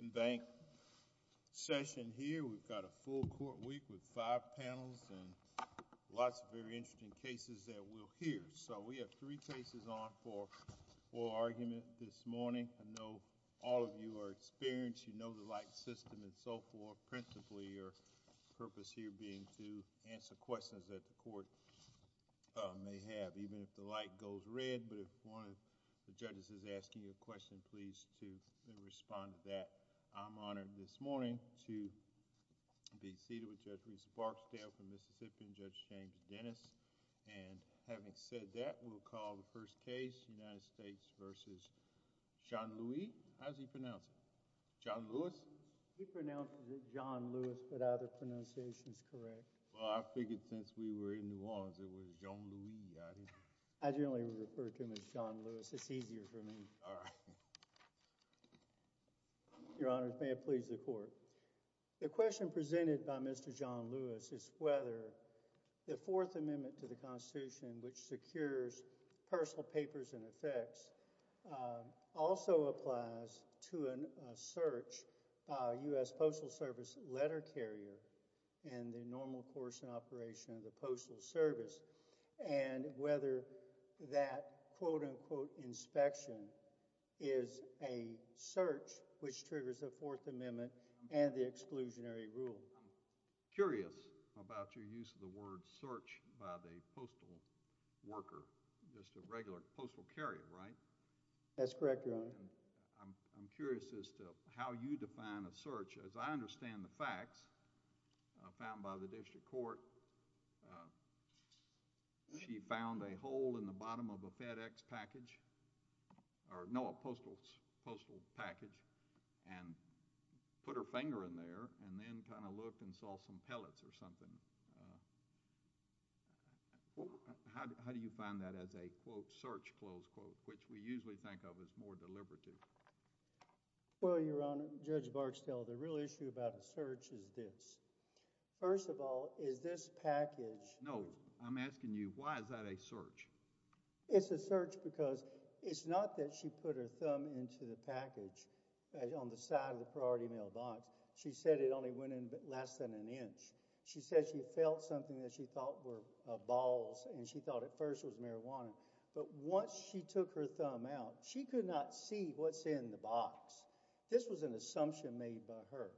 In bank session here, we've got a full court week with five panels and lots of very interesting cases that we'll hear. So we have three cases on for oral argument this morning. I know all of you are experienced, you know the light system and so forth, principally your purpose here being to answer questions that the court may have, even if the light goes red. But if one of the judges is asking a question, please to respond to that. I'm honored this morning to be seated with Judge Reese Barksdale from Mississippi and Judge James Dennis. And having said that, we'll call the first case, United States v. Johnlouis. How does he pronounce it? Johnlouis? He pronounces it Johnlouis, but other pronunciations correct. Well, I figured since we were in New Orleans, it was Johnlouis. I generally refer to him as Johnlouis. It's easier for me. All right. Your Honor, may it please the court. The question presented by Mr. Johnlouis is whether the Fourth Amendment to the Constitution, which secures personal papers and effects, also applies to a search by a U.S. Postal Service letter carrier in the normal course and operation of the Postal Service. And whether that quote-unquote inspection is a search which triggers the Fourth Amendment and the exclusionary rule. I'm curious about your use of the word search by the postal worker. Just a regular postal carrier, right? That's correct, Your Honor. I'm curious as to how you define a search. As I understand the facts found by the district court, she found a hole in the bottom of a FedEx package, or no, a postal package, and put her finger in there and then kind of looked and saw some pellets or something. How do you find that as a quote, search, close quote, which we usually think of as more deliberative? Well, Your Honor, Judge Barksdale, the real issue about a search is this. First of all, is this package— No, I'm asking you, why is that a search? It's a search because it's not that she put her thumb into the package on the side of the priority mailbox. She said it only went in less than an inch. She said she felt something that she thought were balls and she thought at first it was marijuana. But once she took her thumb out, she could not see what's in the box. This was an assumption made by her.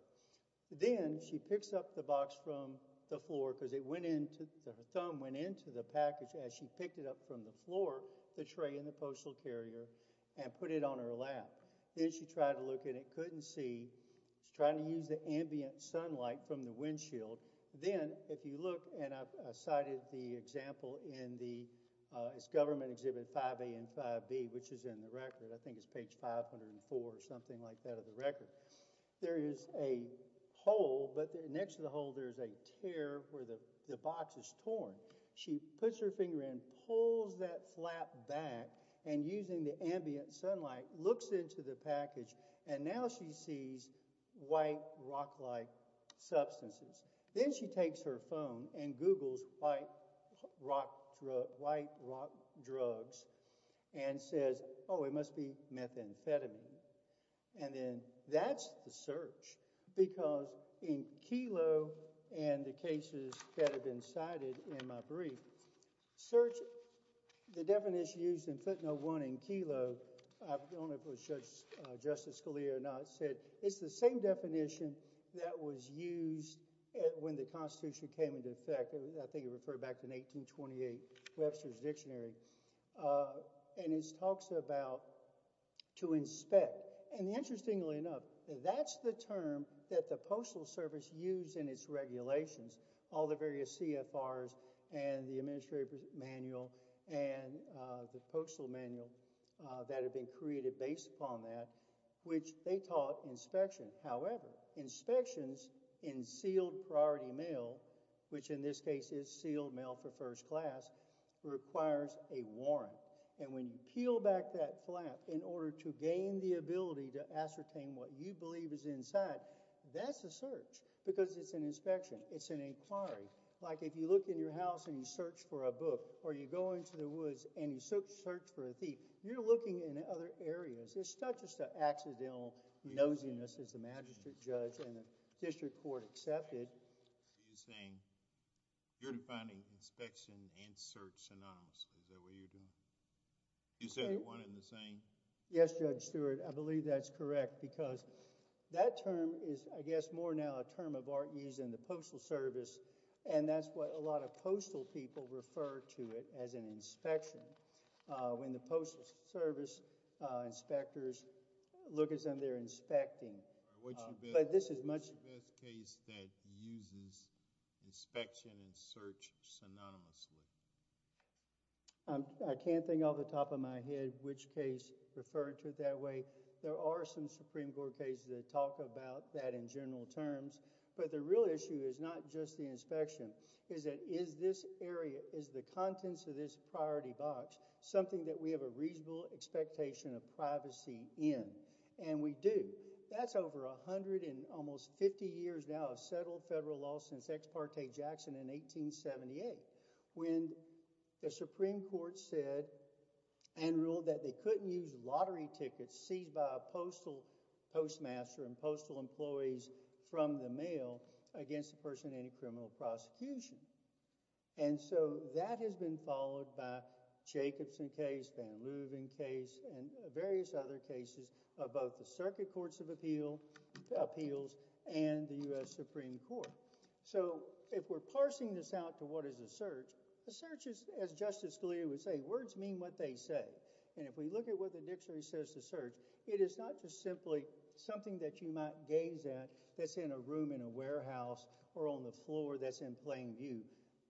Then she picks up the box from the floor because it went into—her thumb went into the package as she picked it up from the floor, the tray in the postal carrier, and put it on her lap. Then she tried to look and it couldn't see. She's trying to use the ambient sunlight from the windshield. Then if you look, and I cited the example in the—it's Government Exhibit 5A and 5B, which is in the record. I think it's page 504 or something like that of the record. There is a hole, but next to the hole there's a tear where the box is torn. She puts her finger in, pulls that flap back, and using the ambient sunlight, looks into the package, and now she sees white, rock-like substances. Then she takes her phone and Googles white rock drugs and says, oh, it must be methamphetamine. And then that's the search because in Kelo and the cases that have been cited in my brief, search—the definition used in footnote 1 in Kelo, I don't know if it was Justice Scalia or not, said it's the same definition that was used when the Constitution came into effect. I think it referred back to an 1828 Webster's Dictionary. It talks about to inspect. Interestingly enough, that's the term that the Postal Service used in its regulations. All the various CFRs and the Administrative Manual and the Postal Manual that had been created based upon that, which they taught inspection. However, inspections in sealed priority mail, which in this case is sealed mail for first class, requires a warrant. And when you peel back that flap in order to gain the ability to ascertain what you believe is inside, that's a search because it's an inspection. It's an inquiry. Like if you look in your house and you search for a book or you go into the woods and you search for a thief, you're looking in other areas. It's not just an accidental nosiness as the magistrate judge and the district court accepted. You're saying you're defining inspection and search synonymously. Is that what you're doing? You said one and the same? Yes, Judge Stewart. I believe that's correct because that term is, I guess, more now a term of art used in the Postal Service, and that's what a lot of postal people refer to it as an inspection. When the Postal Service inspectors look at something, they're inspecting. What's your best case that uses inspection and search synonymously? I can't think off the top of my head which case referred to it that way. There are some Supreme Court cases that talk about that in general terms, but the real issue is not just the inspection. It's that is this area, is the contents of this priority box something that we have a reasonable expectation of privacy in? And we do. That's over 150 years now of settled federal law since Ex parte Jackson in 1878 when the Supreme Court said and ruled that they couldn't use lottery tickets seized by a postal postmaster and postal employees from the mail against the person in any criminal prosecution. And so that has been followed by Jacobson case, Van Leeuwen case, and various other cases of both the Circuit Courts of Appeals and the U.S. Supreme Court. So if we're parsing this out to what is a search, a search is, as Justice Scalia would say, words mean what they say. And if we look at what the dictionary says to search, it is not just simply something that you might gaze at that's in a room in a warehouse or on the floor that's in plain view.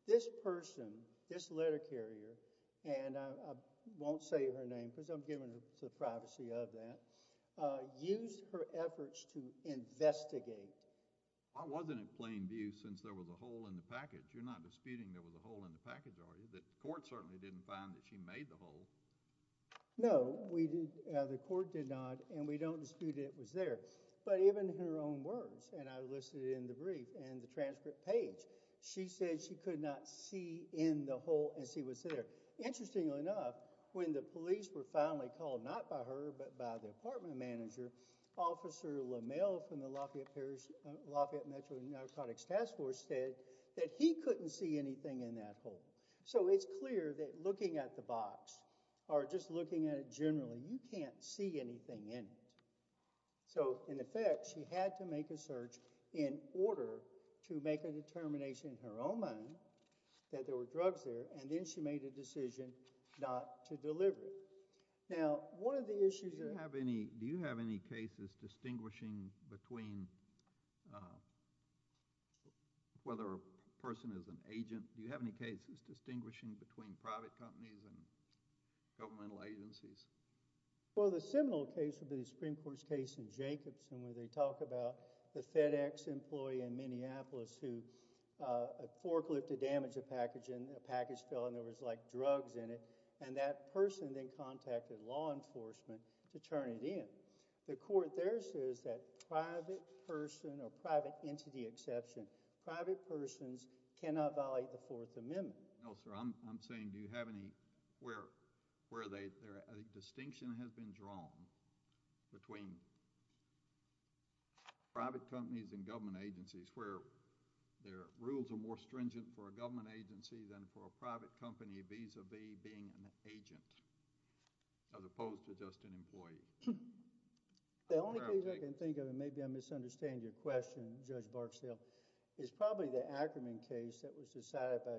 This person, this letter carrier, and I won't say her name because I'm giving her the privacy of that, used her efforts to investigate. I wasn't in plain view since there was a hole in the package. You're not disputing there was a hole in the package, are you? The court certainly didn't find that she made the hole. No, the court did not, and we don't dispute it was there. But even her own words, and I listed it in the brief and the transcript page, she said she could not see in the hole and see what's there. Interestingly enough, when the police were finally called, not by her but by the apartment manager, Officer LaMelle from the Lafayette Metro Narcotics Task Force said that he couldn't see anything in that hole. So it's clear that looking at the box, or just looking at it generally, you can't see anything in it. So, in effect, she had to make a search in order to make a determination in her own mind that there were drugs there, and then she made a decision not to deliver it. Now, one of the issues— Do you have any cases distinguishing between whether a person is an agent? Do you have any cases distinguishing between private companies and governmental agencies? Well, the seminal case would be the Supreme Court's case in Jacobson, where they talk about the FedEx employee in Minneapolis who forklifted damage to a package, and a package fell, and there was, like, drugs in it. And that person then contacted law enforcement to turn it in. The court there says that private person or private entity exception—private persons cannot violate the Fourth Amendment. No, sir. I'm saying, do you have any—where a distinction has been drawn between private companies and government agencies where their rules are more stringent for a government agency than for a private company vis-a-vis being an agent, as opposed to just an employee? The only thing I can think of—and maybe I misunderstand your question, Judge Barksdale—is probably the Ackerman case that was decided by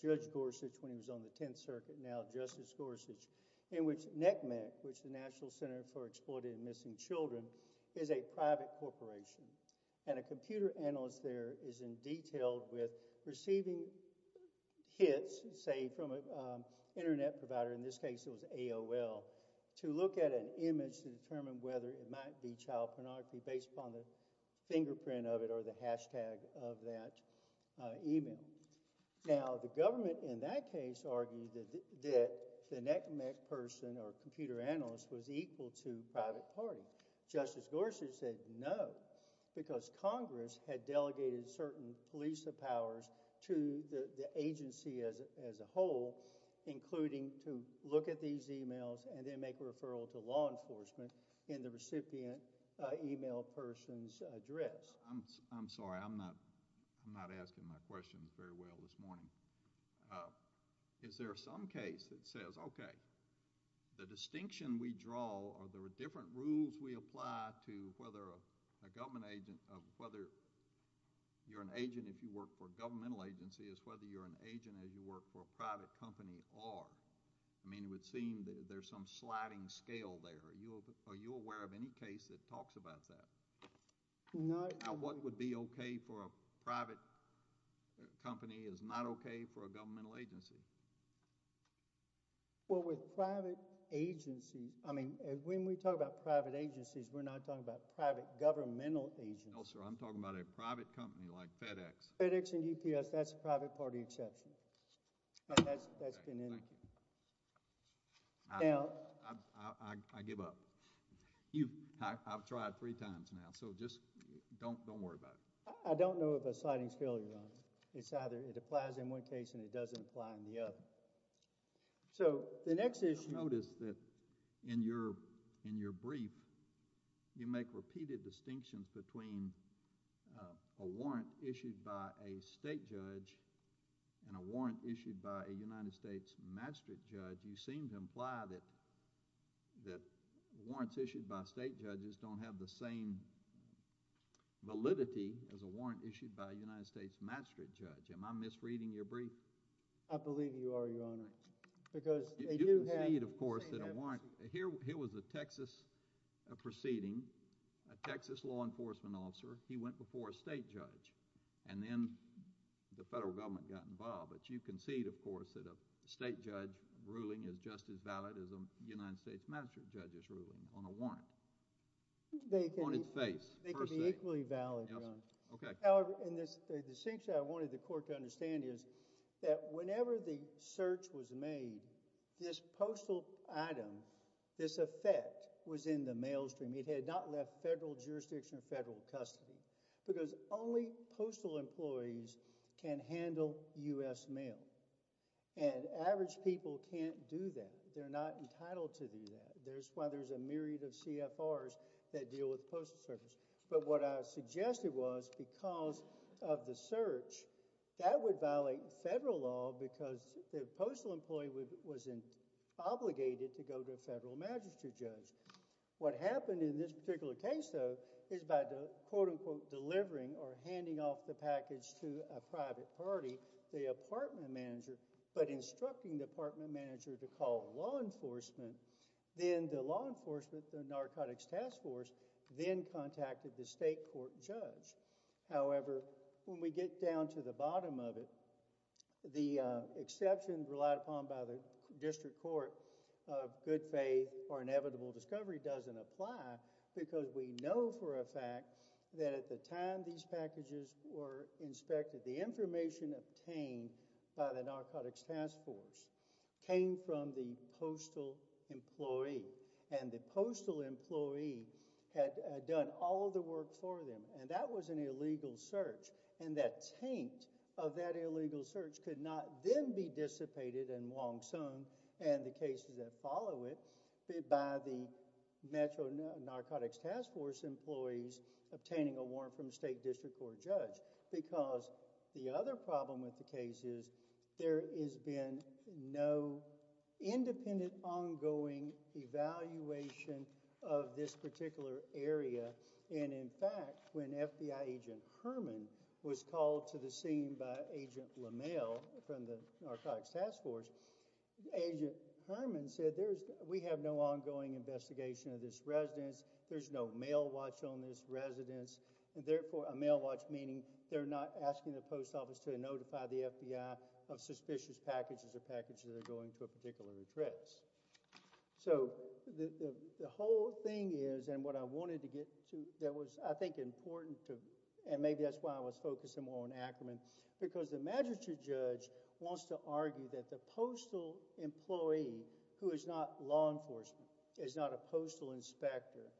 Judge Gorsuch when he was on the Tenth Circuit, now Justice Gorsuch, in which NCMEC, which is the National Center for Exploiting and Missing Children, is a private corporation. And a computer analyst there is in detail with receiving hits, say, from an Internet provider—in this case it was AOL—to look at an image to determine whether it might be child pornography based upon the fingerprint of it or the hashtag of that email. Now, the government in that case argued that the NCMEC person or computer analyst was equal to private party. Justice Gorsuch said no, because Congress had delegated certain police powers to the agency as a whole, including to look at these emails and then make a referral to law enforcement in the recipient email person's address. I'm sorry. I'm not asking my questions very well this morning. Is there some case that says, okay, the distinction we draw or the different rules we apply to whether a government agent—whether you're an agent if you work for a governmental agency is whether you're an agent as you work for a private company or—I mean, it would seem there's some sliding scale there. Are you aware of any case that talks about that? What would be okay for a private company is not okay for a governmental agency. Well, with private agencies—I mean, when we talk about private agencies, we're not talking about private governmental agencies. No, sir. I'm talking about a private company like FedEx. FedEx and UPS, that's a private party exception. That's been indicated. Thank you. Now— I give up. I've tried three times now, so just don't worry about it. I don't know of a sliding scale, Your Honor. It's either it applies in one case and it doesn't apply in the other. So, the next issue— Notice that in your brief, you make repeated distinctions between a warrant issued by a state judge and a warrant issued by a United States magistrate judge. You seem to imply that warrants issued by state judges don't have the same validity as a warrant issued by a United States magistrate judge. Am I misreading your brief? I believe you are, Your Honor, because they do have— You concede, of course, that a warrant—here was a Texas proceeding. A Texas law enforcement officer, he went before a state judge, and then the federal government got involved. You concede, of course, that a state judge ruling is just as valid as a United States magistrate judge's ruling on a warrant on its face, per se. They could be equally valid, Your Honor. Okay. However, the distinction I wanted the court to understand is that whenever the search was made, this postal item, this effect was in the maelstrom. It had not left federal jurisdiction or federal custody because only postal employees can handle U.S. mail, and average people can't do that. They're not entitled to do that. That's why there's a myriad of CFRs that deal with postal service. But what I suggested was because of the search, that would violate federal law because the postal employee was obligated to go to a federal magistrate judge. What happened in this particular case, though, is by the quote-unquote delivering or handing off the package to a private party, the apartment manager, but instructing the apartment manager to call law enforcement, then the law enforcement, the narcotics task force, then contacted the state court judge. However, when we get down to the bottom of it, the exception relied upon by the district court of good faith or inevitable discovery doesn't apply because we know for a fact that at the time these packages were inspected, the information obtained by the narcotics task force came from the postal employee, and the postal employee had done all of the work for them, and that was an illegal search, and that taint of that illegal search could not then be dissipated and long sung, and the cases that follow it, by the metro narcotics task force employees obtaining a warrant from the state district court judge because the other problem with the case is there has been no independent ongoing evaluation of this particular area, and in fact, when FBI agent Herman was called to the scene by agent LaMalle from the narcotics task force, agent Herman said, we have no ongoing investigation of this residence, there's no mail watch on this residence, and therefore, a mail watch meaning they're not asking the post office to notify the FBI of suspicious packages or packages that are going to a particular address. So, the whole thing is, and what I wanted to get to that was, I think, important to, and maybe that's why I was focusing more on Ackerman, because the magistrate judge wants to argue that the postal employee who is not law enforcement, is not a postal inspector,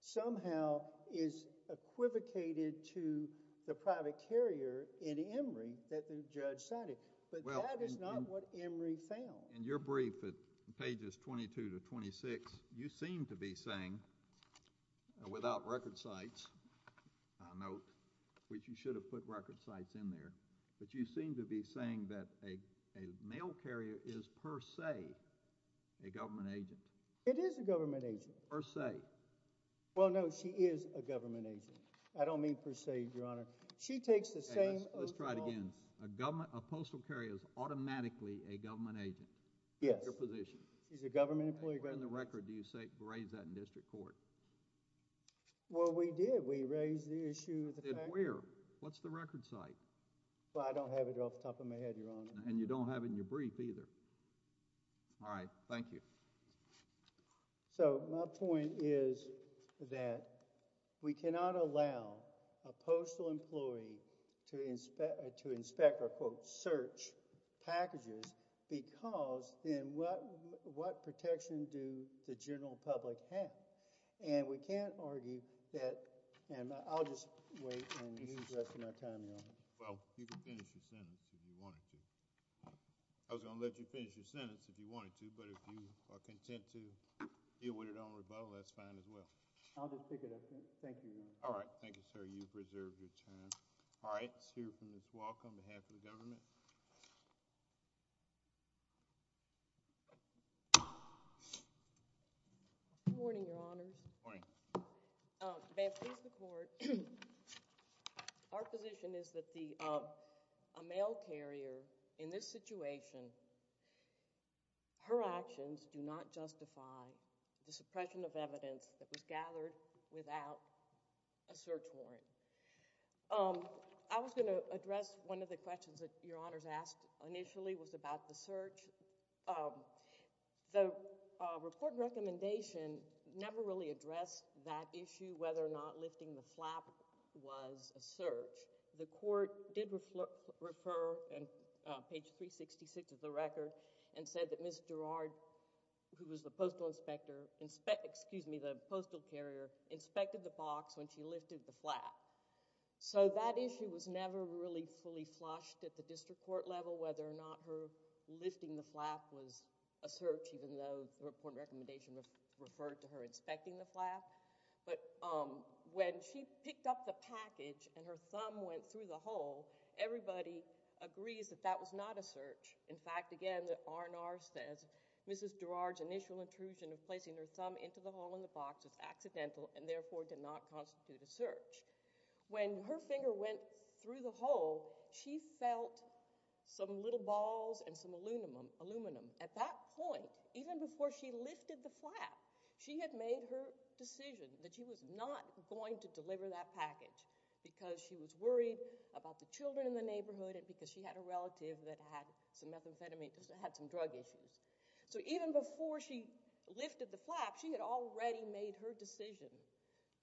somehow is equivocated to the private carrier in Emory that the judge cited, but that is not what Emory found. In your brief, pages 22 to 26, you seem to be saying, without record sites, a note, which you should have put record sites in there, but you seem to be saying that a mail carrier is, per se, a government agent. It is a government agent. Per se. Well, no, she is a government agent. I don't mean per se, Your Honor. She takes the same oath of office. Let's try it again. A postal carrier is automatically a government agent. Yes. In your position. She's a government employee. Where in the record do you raise that in district court? Well, we did. We raised the issue. We did. Where? What's the record site? Well, I don't have it off the top of my head, Your Honor. And you don't have it in your brief either. All right. Thank you. So, my point is that we cannot allow a postal employee to inspect or, quote, search packages because then what protection do the general public have? And we can't argue that, and I'll just wait and use the rest of my time, Your Honor. Well, you can finish your sentence if you wanted to. I was going to let you finish your sentence if you wanted to, but if you are content to deal with it on rebuttal, that's fine as well. I'll just pick it up then. Thank you, Your Honor. All right. Thank you, sir. You've preserved your time. All right. Let's hear from Ms. Walk on behalf of the government. Good morning, Your Honors. Good morning. May it please the Court, our position is that a mail carrier in this situation, her actions do not justify the suppression of evidence that was gathered without a search warrant. I was going to address one of the questions that Your Honors asked initially was about the search. The report recommendation never really addressed that issue, whether or not lifting the flap was a search. The Court did refer, on page 366 of the record, and said that Ms. Gerard, who was the postal carrier, inspected the box when she lifted the flap. That issue was never really fully flushed at the district court level, whether or not her lifting the flap was a search, even though the report recommendation referred to her inspecting the flap. When she picked up the package and her thumb went through the hole, everybody agrees that that was not a search. In fact, again, the R&R says, Mrs. Gerard's initial intrusion of placing her thumb into the hole in the box was accidental and therefore did not constitute a search. When her finger went through the hole, she felt some little balls and some aluminum. At that point, even before she lifted the flap, she had made her decision that she was not going to deliver that package because she was worried about the children in the neighborhood and because she had a relative that had some drug issues. Even before she lifted the flap, she had already made her decision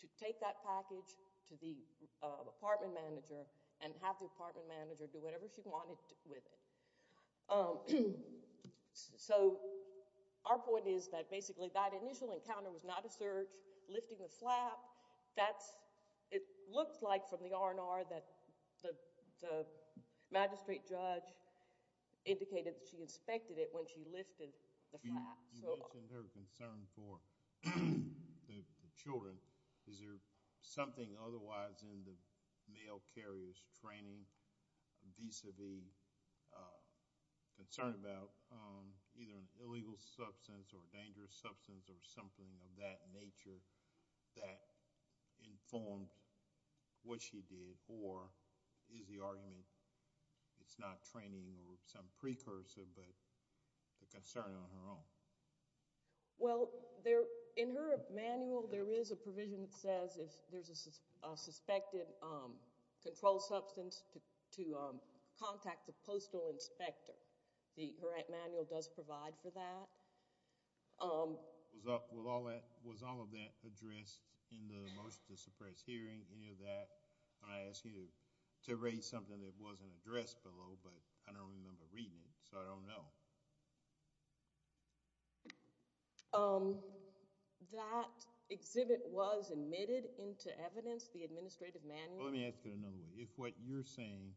to take that package to the apartment manager and have the apartment manager do whatever she wanted with it. Our point is that basically that initial encounter was not a search. Lifting the flap, it looks like from the R&R that the magistrate judge indicated that she lifted the flap. You mentioned her concern for the children. Is there something otherwise in the mail carrier's training vis-a-vis concern about either an illegal substance or a dangerous substance or something of that nature that informed what she did? Or is the argument it's not training or some precursor but the concern on her own? Well, in her manual, there is a provision that says if there's a suspected controlled substance to contact the postal inspector. Her manual does provide for that. Was all of that addressed in the motion to suppress hearing, any of that? I asked you to raise something that wasn't addressed below, but I don't remember reading it, so I don't know. That exhibit was admitted into evidence, the administrative manual? Let me ask it another way. If what you're saying,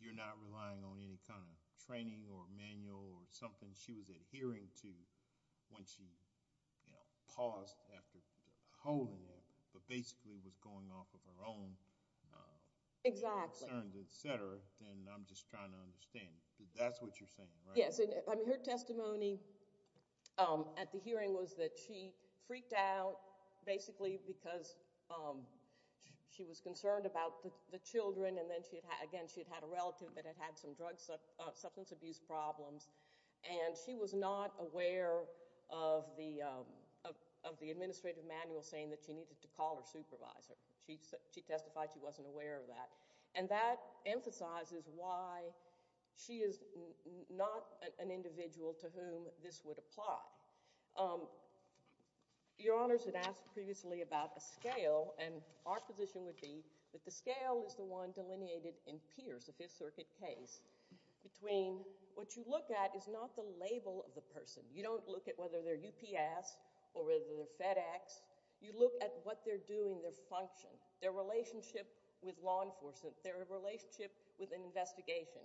you're not relying on any kind of training or manual or something and she was adhering to when she paused after holding it, but basically was going off of her own concerns, et cetera, then I'm just trying to understand. That's what you're saying, right? Yes. Her testimony at the hearing was that she freaked out basically because she was concerned about the children. Again, she had had a relative that had had some drug substance abuse problems and she was not aware of the administrative manual saying that she needed to call her supervisor. She testified she wasn't aware of that. That emphasizes why she is not an individual to whom this would apply. Your Honors had asked previously about a scale and our position would be that the scale is the one delineated in Pierce, the Fifth Circuit case, between what you look at is not the label of the person. You don't look at whether they're UPS or whether they're FedEx. You look at what they're doing, their function, their relationship with law enforcement, their relationship with an investigation.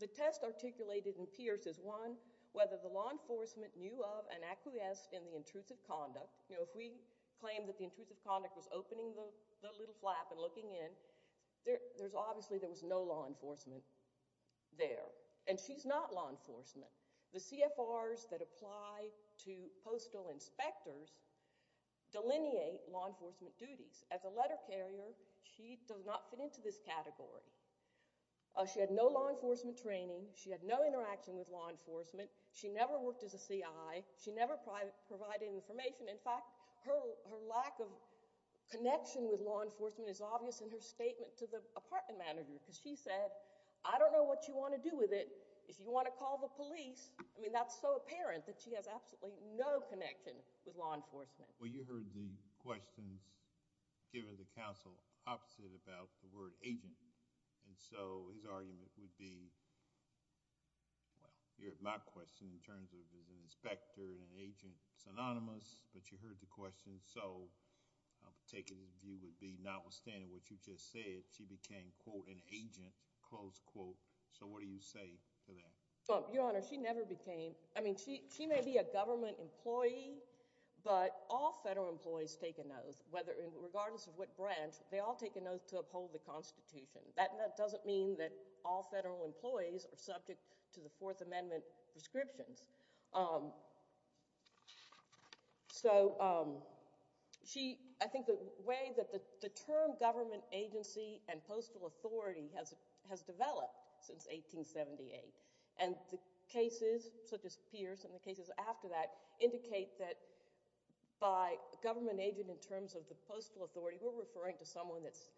The test articulated in Pierce is one, whether the law enforcement knew of and acquiesced in the intrusive conduct. If we claim that the intrusive conduct was opening the little flap and looking in, obviously there was no law enforcement there. She's not law enforcement. The CFRs that apply to postal inspectors delineate law enforcement duties. As a letter carrier, she does not fit into this category. She had no law enforcement training. She had no interaction with law enforcement. She never worked as a CI. She never provided information. In fact, her lack of connection with law enforcement is obvious in her statement to the apartment manager because she said, I don't know what you want to do with it. If you want to call the police, I mean, that's so apparent that she has absolutely no connection with law enforcement. Well, you heard the questions given to counsel opposite about the word agent. And so his argument would be, well, you heard my question in terms of an inspector and an agent synonymous, but you heard the question. So I'm taking his view would be notwithstanding what you just said, she became, quote, an agent, close quote. So what do you say to that? Your Honor, she never became, I mean, she may be a government employee, but all federal employees take an oath, regardless of what branch. They all take an oath to uphold the Constitution. That doesn't mean that all federal employees are subject to the Fourth Amendment prescriptions. So she, I think the way that the term government agency and postal authority has developed since 1878 and the cases such as Pierce and the cases after that indicate that by government agent in terms of the postal authority, we're referring to someone that's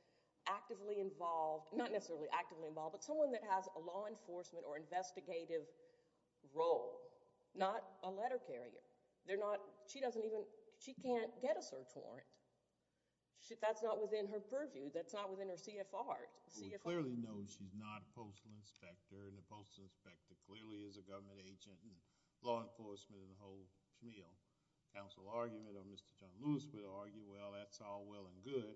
actively involved, not necessarily actively involved, but someone that has a law enforcement or investigative role, not a letter carrier. They're not, she doesn't even, she can't get a search warrant. That's not within her purview. That's not within her CFR. We clearly know she's not a postal inspector, and a postal inspector clearly is a government agent, and law enforcement, and the whole Schmeal Council argument, or Mr. John Lewis would argue, well, that's all well and good,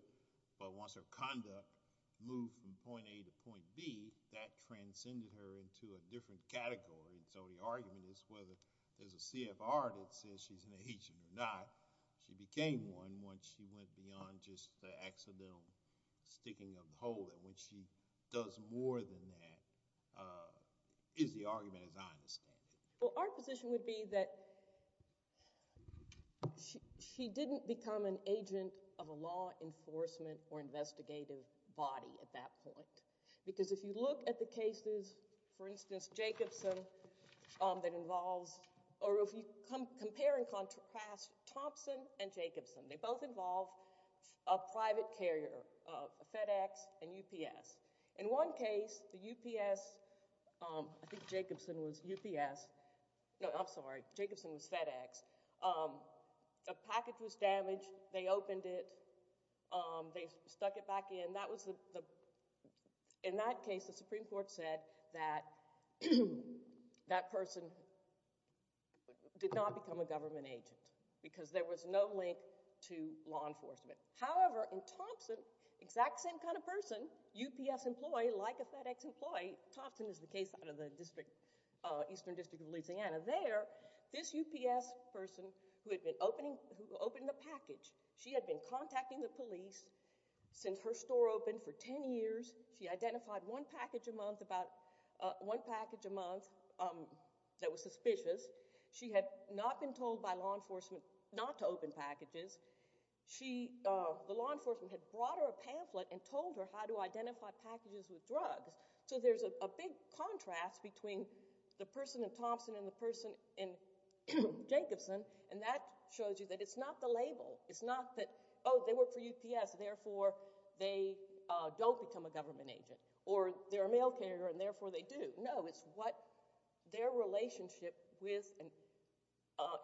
but once her conduct moved from point A to point B, that transcended her into a different category. So the argument is whether there's a CFR that says she's an agent or not, she became one once she went beyond just the accidental sticking of the whole, and when she does more than that is the argument, as I understand it. Well, our position would be that she didn't become an agent of a law enforcement or investigative body at that point, because if you look at the cases, for instance, Jacobson that involves, or if you compare and contrast Thompson and Jacobson, they both involve a private carrier, FedEx and UPS. In one case, the UPS, I think Jacobson was UPS, no, I'm sorry, Jacobson was FedEx, a package was damaged, they opened it, they stuck it back in. In that case, the Supreme Court said that that person did not become a government agent, because there was no link to law enforcement. However, in Thompson, exact same kind of person, UPS employee, like a FedEx employee, Thompson is the case out of the Eastern District of Louisiana, there, this UPS person who had been opening the package, she had been contacting the police since her store opened for ten years, she identified one package a month that was suspicious, she had not been told by law enforcement not to open packages, the law enforcement had brought her a pamphlet and told her how to identify packages with drugs. So there's a big contrast between the person in Thompson and the person in Jacobson, and that shows you that it's not the label, it's not that, oh, they work for UPS, therefore they don't become a government agent, or they're a mail carrier and therefore they do. No, it's what their relationship with an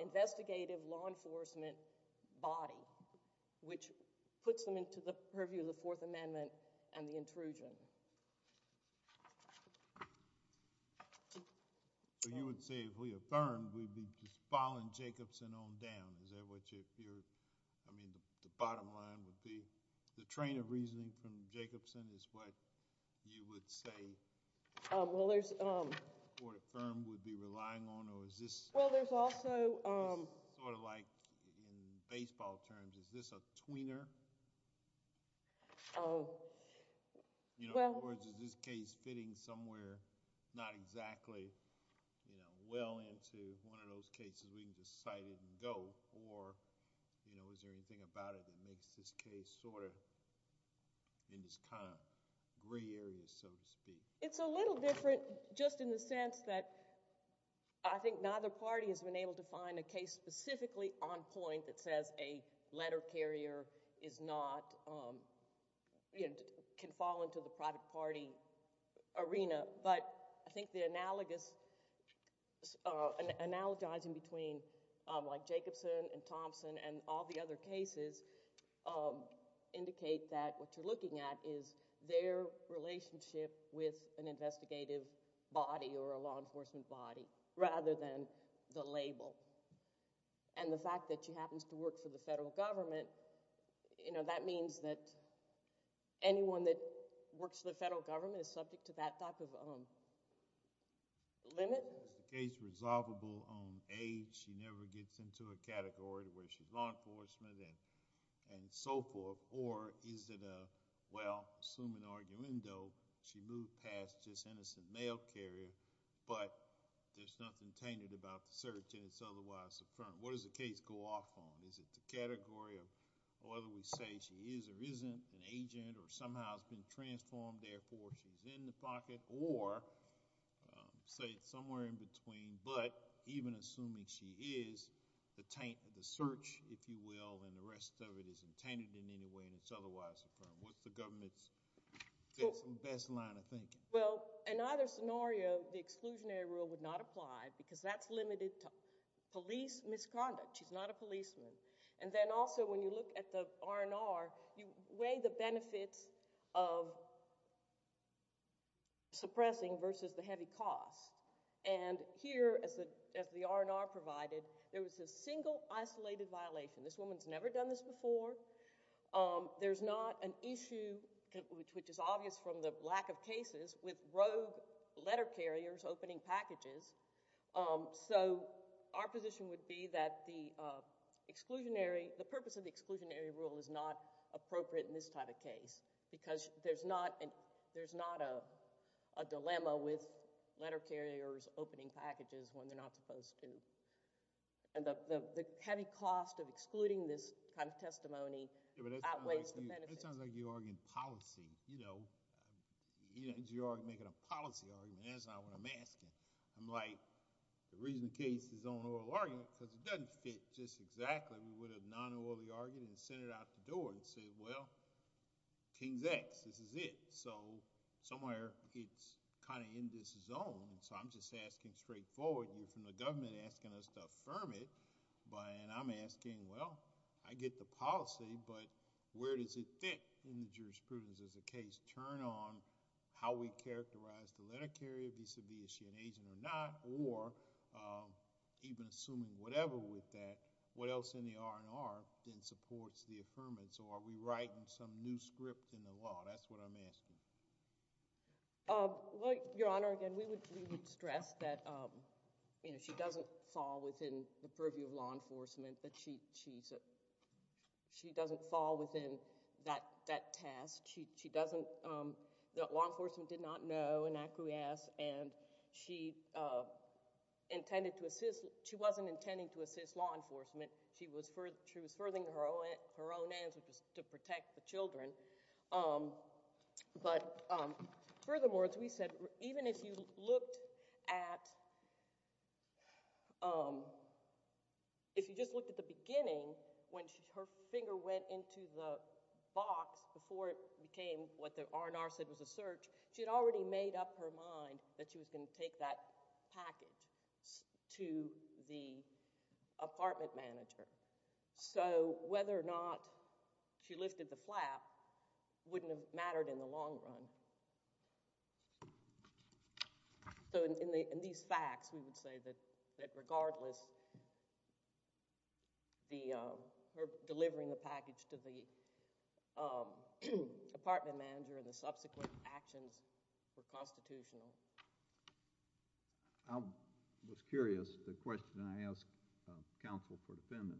investigative law enforcement body, which puts them into the purview of the Fourth Amendment and the intrusion. So you would say if we affirmed, we'd be just following Jacobson on down, is that what you're, I mean, the bottom line would be, the train of reasoning from Jacobson is what you would say? Well, there's... Or affirmed, would be relying on, or is this... Well, there's also... Sort of like in baseball terms, is this a tweener? You know, in other words, is this case fitting somewhere not exactly, you know, well into one of those cases we can just cite it and go, or, you know, is there anything about it that makes this case sort of in this kind of gray area, so to speak? It's a little different, just in the sense that I think neither party has been able to find a case specifically on point that says a letter carrier is not, you know, can fall into the private party arena, but I think the analogous, analogizing between, like, other cases indicate that what you're looking at is their relationship with an investigative body or a law enforcement body, rather than the label, and the fact that she happens to work for the federal government, you know, that means that anyone that works for the federal government is subject to that type of limit. Well, is the case resolvable on A, she never gets into a category where she's law enforcement and so forth, or is it a, well, assuming arguendo, she moved past just innocent mail carrier, but there's nothing tainted about the search and it's otherwise affirmed? What does the case go off on? Is it the category of whether we say she is or isn't an agent or somehow has been transformed, therefore she's in the pocket, or say somewhere in between, but even assuming she is, the search, if you will, and the rest of it isn't tainted in any way and it's otherwise affirmed. What's the government's best line of thinking? Well, in either scenario, the exclusionary rule would not apply because that's limited to police misconduct. She's not a policeman. And then also when you look at the R&R, you weigh the benefits of suppressing versus the heavy cost. And here, as the R&R provided, there was a single isolated violation. This woman's never done this before. There's not an issue, which is obvious from the lack of cases, with rogue letter carriers opening packages. So our position would be that the purpose of the exclusionary rule is not appropriate in this type of case because there's not a dilemma with letter carriers opening packages when they're not supposed to. And the heavy cost of excluding this kind of testimony outweighs the benefits. It sounds like you're arguing policy. You're making a policy argument. That's not what I'm asking. I'm like, the reason the case is on oral argument because it doesn't fit just exactly. We would have non-orally argued and sent it out the door and said, well, King's X. This is it. So somewhere it's kind of in this zone. So I'm just asking straightforward. You're from the government asking us to affirm it. And I'm asking, well, I get the policy, but where does it fit in the jurisprudence as a case turn on how we characterize the letter carrier, vis-a-vis is she an agent or not, or even assuming whatever with that, what else in the R&R then supports the affirmance? Or are we writing some new script in the law? That's what I'm asking. Well, Your Honor, again, we would stress that she doesn't fall within the purview of law enforcement. She doesn't fall within that task. Law enforcement did not know an acquiesce. And she wasn't intending to assist law enforcement. She was furthering her own aims, which was to protect the children. But furthermore, as we said, even if you looked at the beginning, when her finger went into the box before it became what the R&R said was a search, she had already made up her mind that she was going to take that package to the apartment manager. So whether or not she lifted the flap wouldn't have mattered in the long run. So in these facts, we would say that regardless, her delivering the package to the apartment manager and the subsequent actions were constitutional. I was curious, the question I asked counsel for defendant.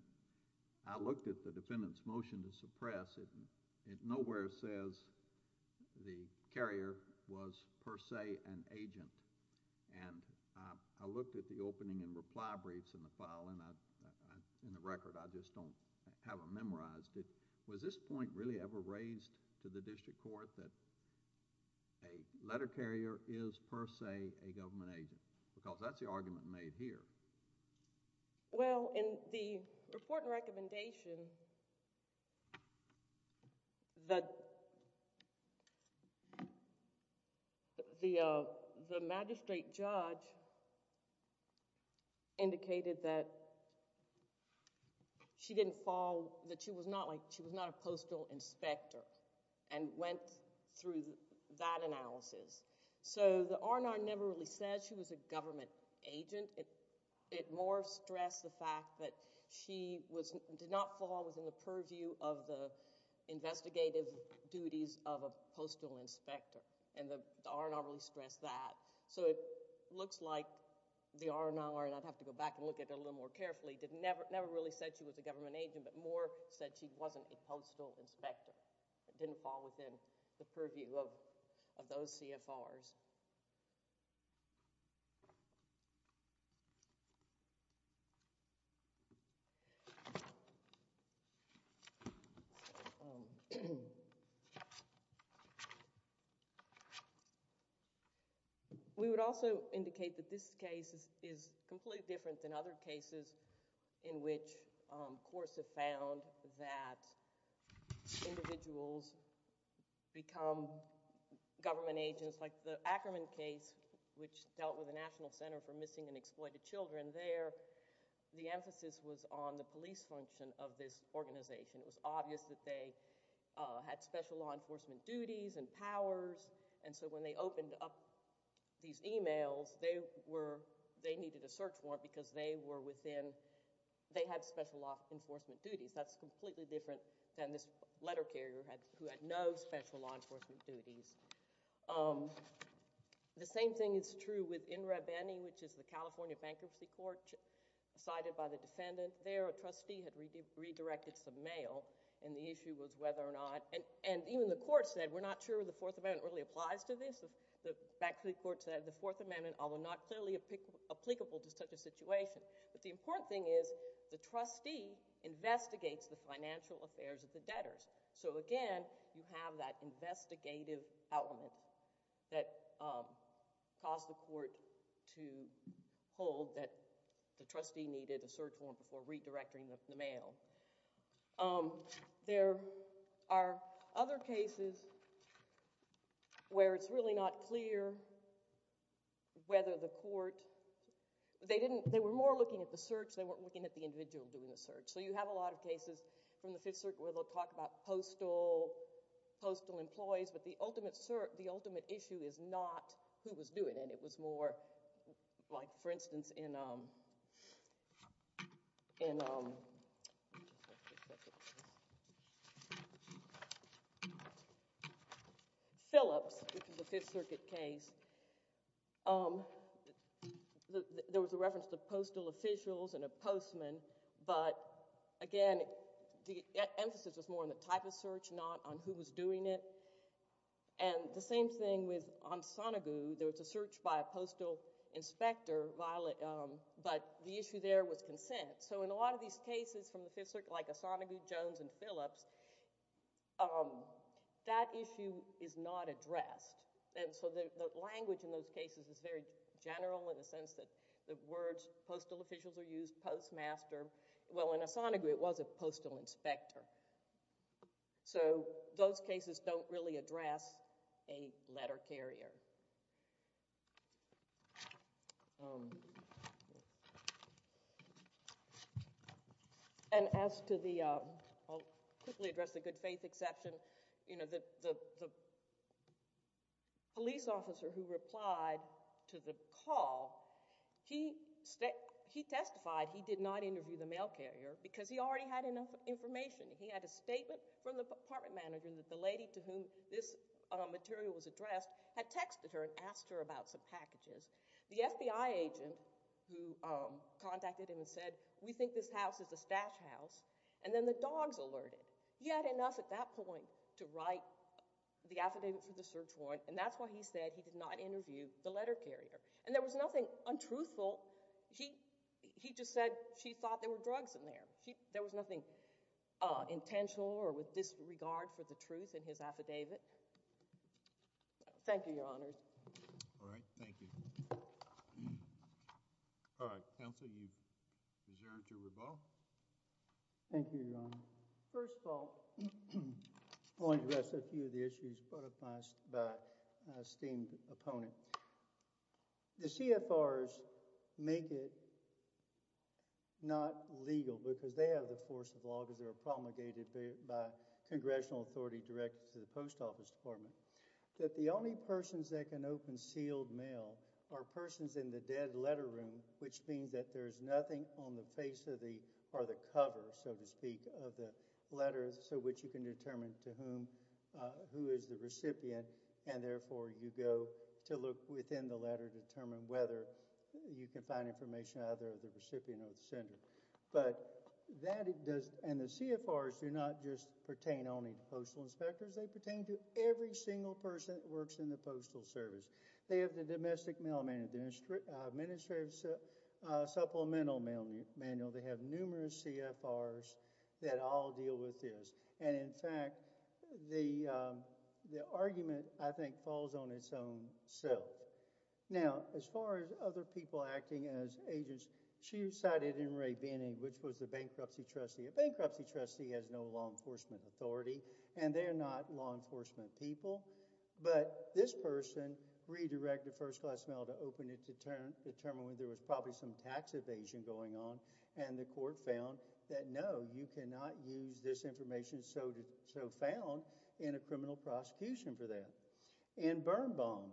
I looked at the defendant's motion to suppress. It nowhere says the carrier was per se an agent. And I looked at the opening and reply briefs in the file and in the record. I just don't have them memorized. Was this point really ever raised to the district court that a letter carrier is per se a government agent? Because that's the argument made here. Well, in the report and recommendation, the magistrate judge indicated that she was not a postal inspector and went through that analysis. So the R&R never really said she was a government agent. It more stressed the fact that she did not fall within the purview of the investigative duties of a postal inspector. And the R&R really stressed that. So it looks like the R&R, and I'd have to go back and look at it a little more carefully, never really said she was a government agent, but more said she wasn't a postal inspector. Didn't fall within the purview of those CFRs. We would also indicate that this case is completely different than other cases in which courts have found that individuals become government agents, like the Ackerman case, which dealt with the National Center for Missing and Exploited Children. There, the emphasis was on the police function of this organization. It was obvious that they had special law enforcement duties and powers. And so when they opened up these emails, they needed a search warrant because they were within—they had special law enforcement duties. That's completely different than this letter carrier who had no special law enforcement duties. The same thing is true with In Re Bene, which is the California Bankruptcy Court cited by the defendant. There, a trustee had redirected some mail, and the issue was whether or not—and even the court said, we're not sure the Fourth Amendment really applies to this. The bankruptcy court said the Fourth Amendment, although not clearly applicable to such a case, but the important thing is the trustee investigates the financial affairs of the debtors. So again, you have that investigative element that caused the court to hold that the trustee needed a search warrant before redirecting the mail. There are other cases where it's really not clear whether the court—they didn't—they were more looking at the search. They weren't looking at the individual doing the search. So you have a lot of cases from the Fifth Circuit where they'll talk about postal employees, but the ultimate issue is not who was doing it. It was more like, for instance, in Phillips, which is a Fifth Circuit case, there was a reference to postal officials and a postman, but again, the emphasis was more on the type of search, not on who was doing it. And the same thing with Onsonagoo. There was a search by a postal inspector, but the issue there was consent. So in a lot of these cases from the Fifth Circuit, like Onsonagoo, Jones, and Phillips, that issue is not addressed. And so the language in those cases is very general in the sense that the words postal officials are used, postmaster. Well, in Onsonagoo, it was a postal inspector. So those cases don't really address a letter carrier. And as to the—I'll quickly address the good faith exception. You know, the police officer who replied to the call, he testified he did not interview the mail carrier because he already had enough information. He had a statement from the apartment manager that the lady to whom this material was addressed had texted her and asked her about some packages. The FBI agent who contacted him and said, we think this house is a stash house, and then the dogs alerted. He had enough at that point to write the affidavit for the search warrant, and that's why he said he did not interview the letter carrier. And there was nothing untruthful. He just said she thought there were drugs in there. There was nothing intentional or with disregard for the truth in his affidavit. Thank you, Your Honors. All right. Thank you. All right. Counsel, you've reserved your rebuttal. Thank you, Your Honor. First of all, I want to address a few of the issues brought up by an esteemed opponent. The CFRs make it not legal because they have the force of law because they're promulgated by congressional authority directed to the post office department. That the only persons that can open sealed mail are persons in the dead letter room, which means that there is nothing on the face or the cover, so to speak, of the letters so which you can determine to whom, who is the recipient, and therefore you go to look within the letter to determine whether you can find information out of the recipient or the sender. But that does, and the CFRs do not just pertain only to postal inspectors. They pertain to every single person that works in the postal service. They have the domestic mailman, the administrative supplemental mailman. They have numerous CFRs that all deal with this. And, in fact, the argument, I think, falls on its own self. Now, as far as other people acting as agents, she cited M. Ray Binning, which was the bankruptcy trustee. A bankruptcy trustee has no law enforcement authority, and they're not law enforcement people. But this person redirected first-class mail to open it to determine whether there was probably some tax evasion going on. And the court found that, no, you cannot use this information so found in a criminal prosecution for that. In Birnbaum,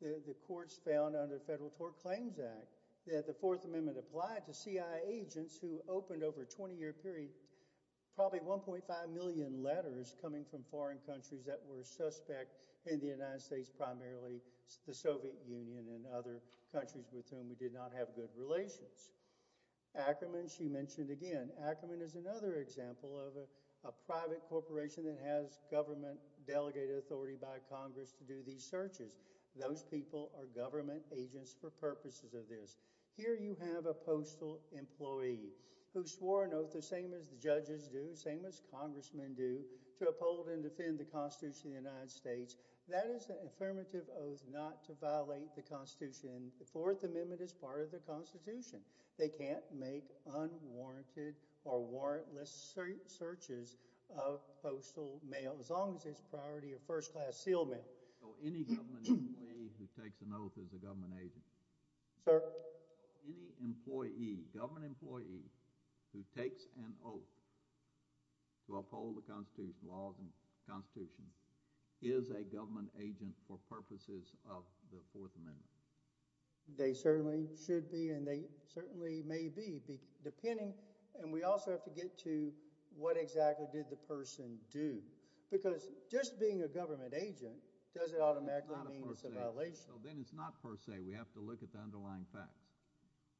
the courts found under the Federal Tort Claims Act that the Fourth Amendment applied to CIA agents who opened over a 20-year period probably 1.5 million letters coming from foreign countries that were suspect in the United States, primarily the Soviet Union and other countries with whom we did not have good relations. Ackerman, she mentioned again. Ackerman is another example of a private corporation that has government delegated authority by Congress to do these searches. Those people are government agents for purposes of this. Here you have a postal employee who swore an oath, the same as the judges do, the same as congressmen do, to uphold and defend the Constitution of the United States. That is an affirmative oath not to violate the Constitution. The Fourth Amendment is part of the Constitution. They can't make unwarranted or warrantless searches of postal mail as long as it's priority of first-class sealed mail. So any government employee who takes an oath is a government agent? Sir? Any employee, government employee, who takes an oath to uphold the Constitution, laws and Constitution, is a government agent for purposes of the Fourth Amendment? They certainly should be and they certainly may be, depending, and we also have to get to what exactly did the person do? Because just being a government agent doesn't automatically mean it's a violation. Then it's not per se. We have to look at the underlying facts.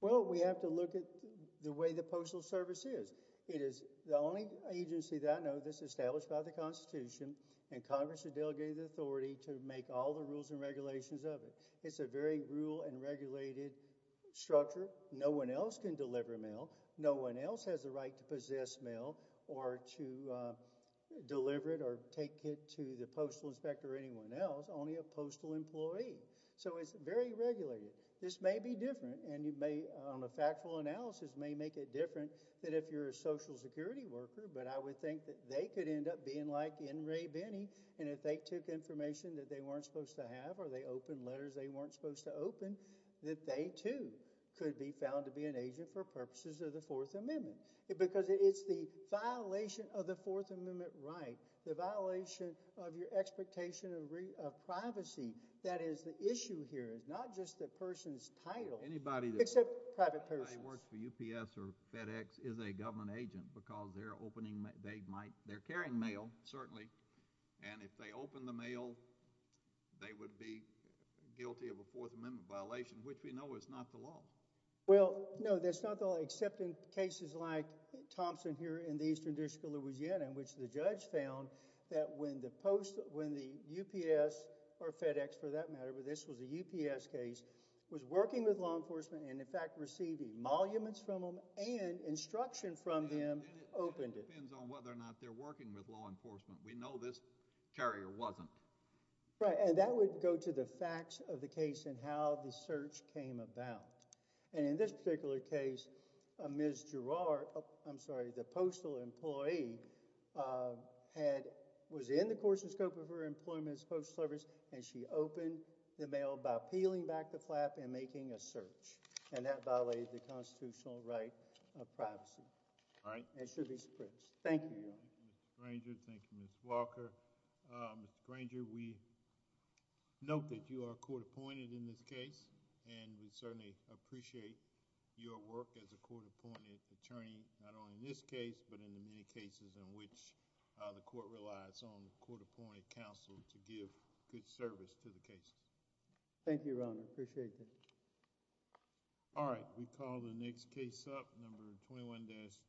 Well, we have to look at the way the Postal Service is. It is the only agency that I know that's established by the Constitution and Congress has delegated the authority to make all the rules and regulations of it. It's a very rule and regulated structure. No one else can deliver mail. No one else has the right to possess mail or to deliver it or take it to the postal inspector or anyone else, only a postal employee. So it's very regulated. This may be different and you may, on a factual analysis, may make it different than if you're a Social Security worker, but I would think that they could end up being like N. Ray Binney, and if they took information that they weren't supposed to have or they opened letters they weren't supposed to open, that they too could be found to be an agent for purposes of the Fourth Amendment because it's the violation of the Fourth Amendment right, the violation of your expectation of privacy. That is the issue here. It's not just the person's title. Except private persons. Anybody that works for UPS or FedEx is a government agent because they're carrying mail, certainly, and if they open the mail they would be guilty of a Fourth Amendment violation, which we know is not the law. Well, no, that's not the law except in cases like Thompson here in the Eastern District of Louisiana, in which the judge found that when the UPS or FedEx, for that matter, this was a UPS case, was working with law enforcement and in fact received emoluments from them and instruction from them opened it. And it depends on whether or not they're working with law enforcement. We know this carrier wasn't. Right, and that would go to the facts of the case and how the search came about. And in this particular case, Ms. Gerard, I'm sorry, the postal employee, was in the course and scope of her employment as post service and she opened the mail by peeling back the flap and making a search. And that violated the constitutional right of privacy. Right. And should be supressed. Thank you, Your Honor. Thank you, Mr. Granger. Thank you, Ms. Walker. Mr. Granger, we note that you are court appointed in this case and we certainly appreciate your work as a court appointed attorney, not only in this case but in the many cases in which the court relies on good service to the case. Thank you, Your Honor. I appreciate that. All right. We call the next case up, number 21-2.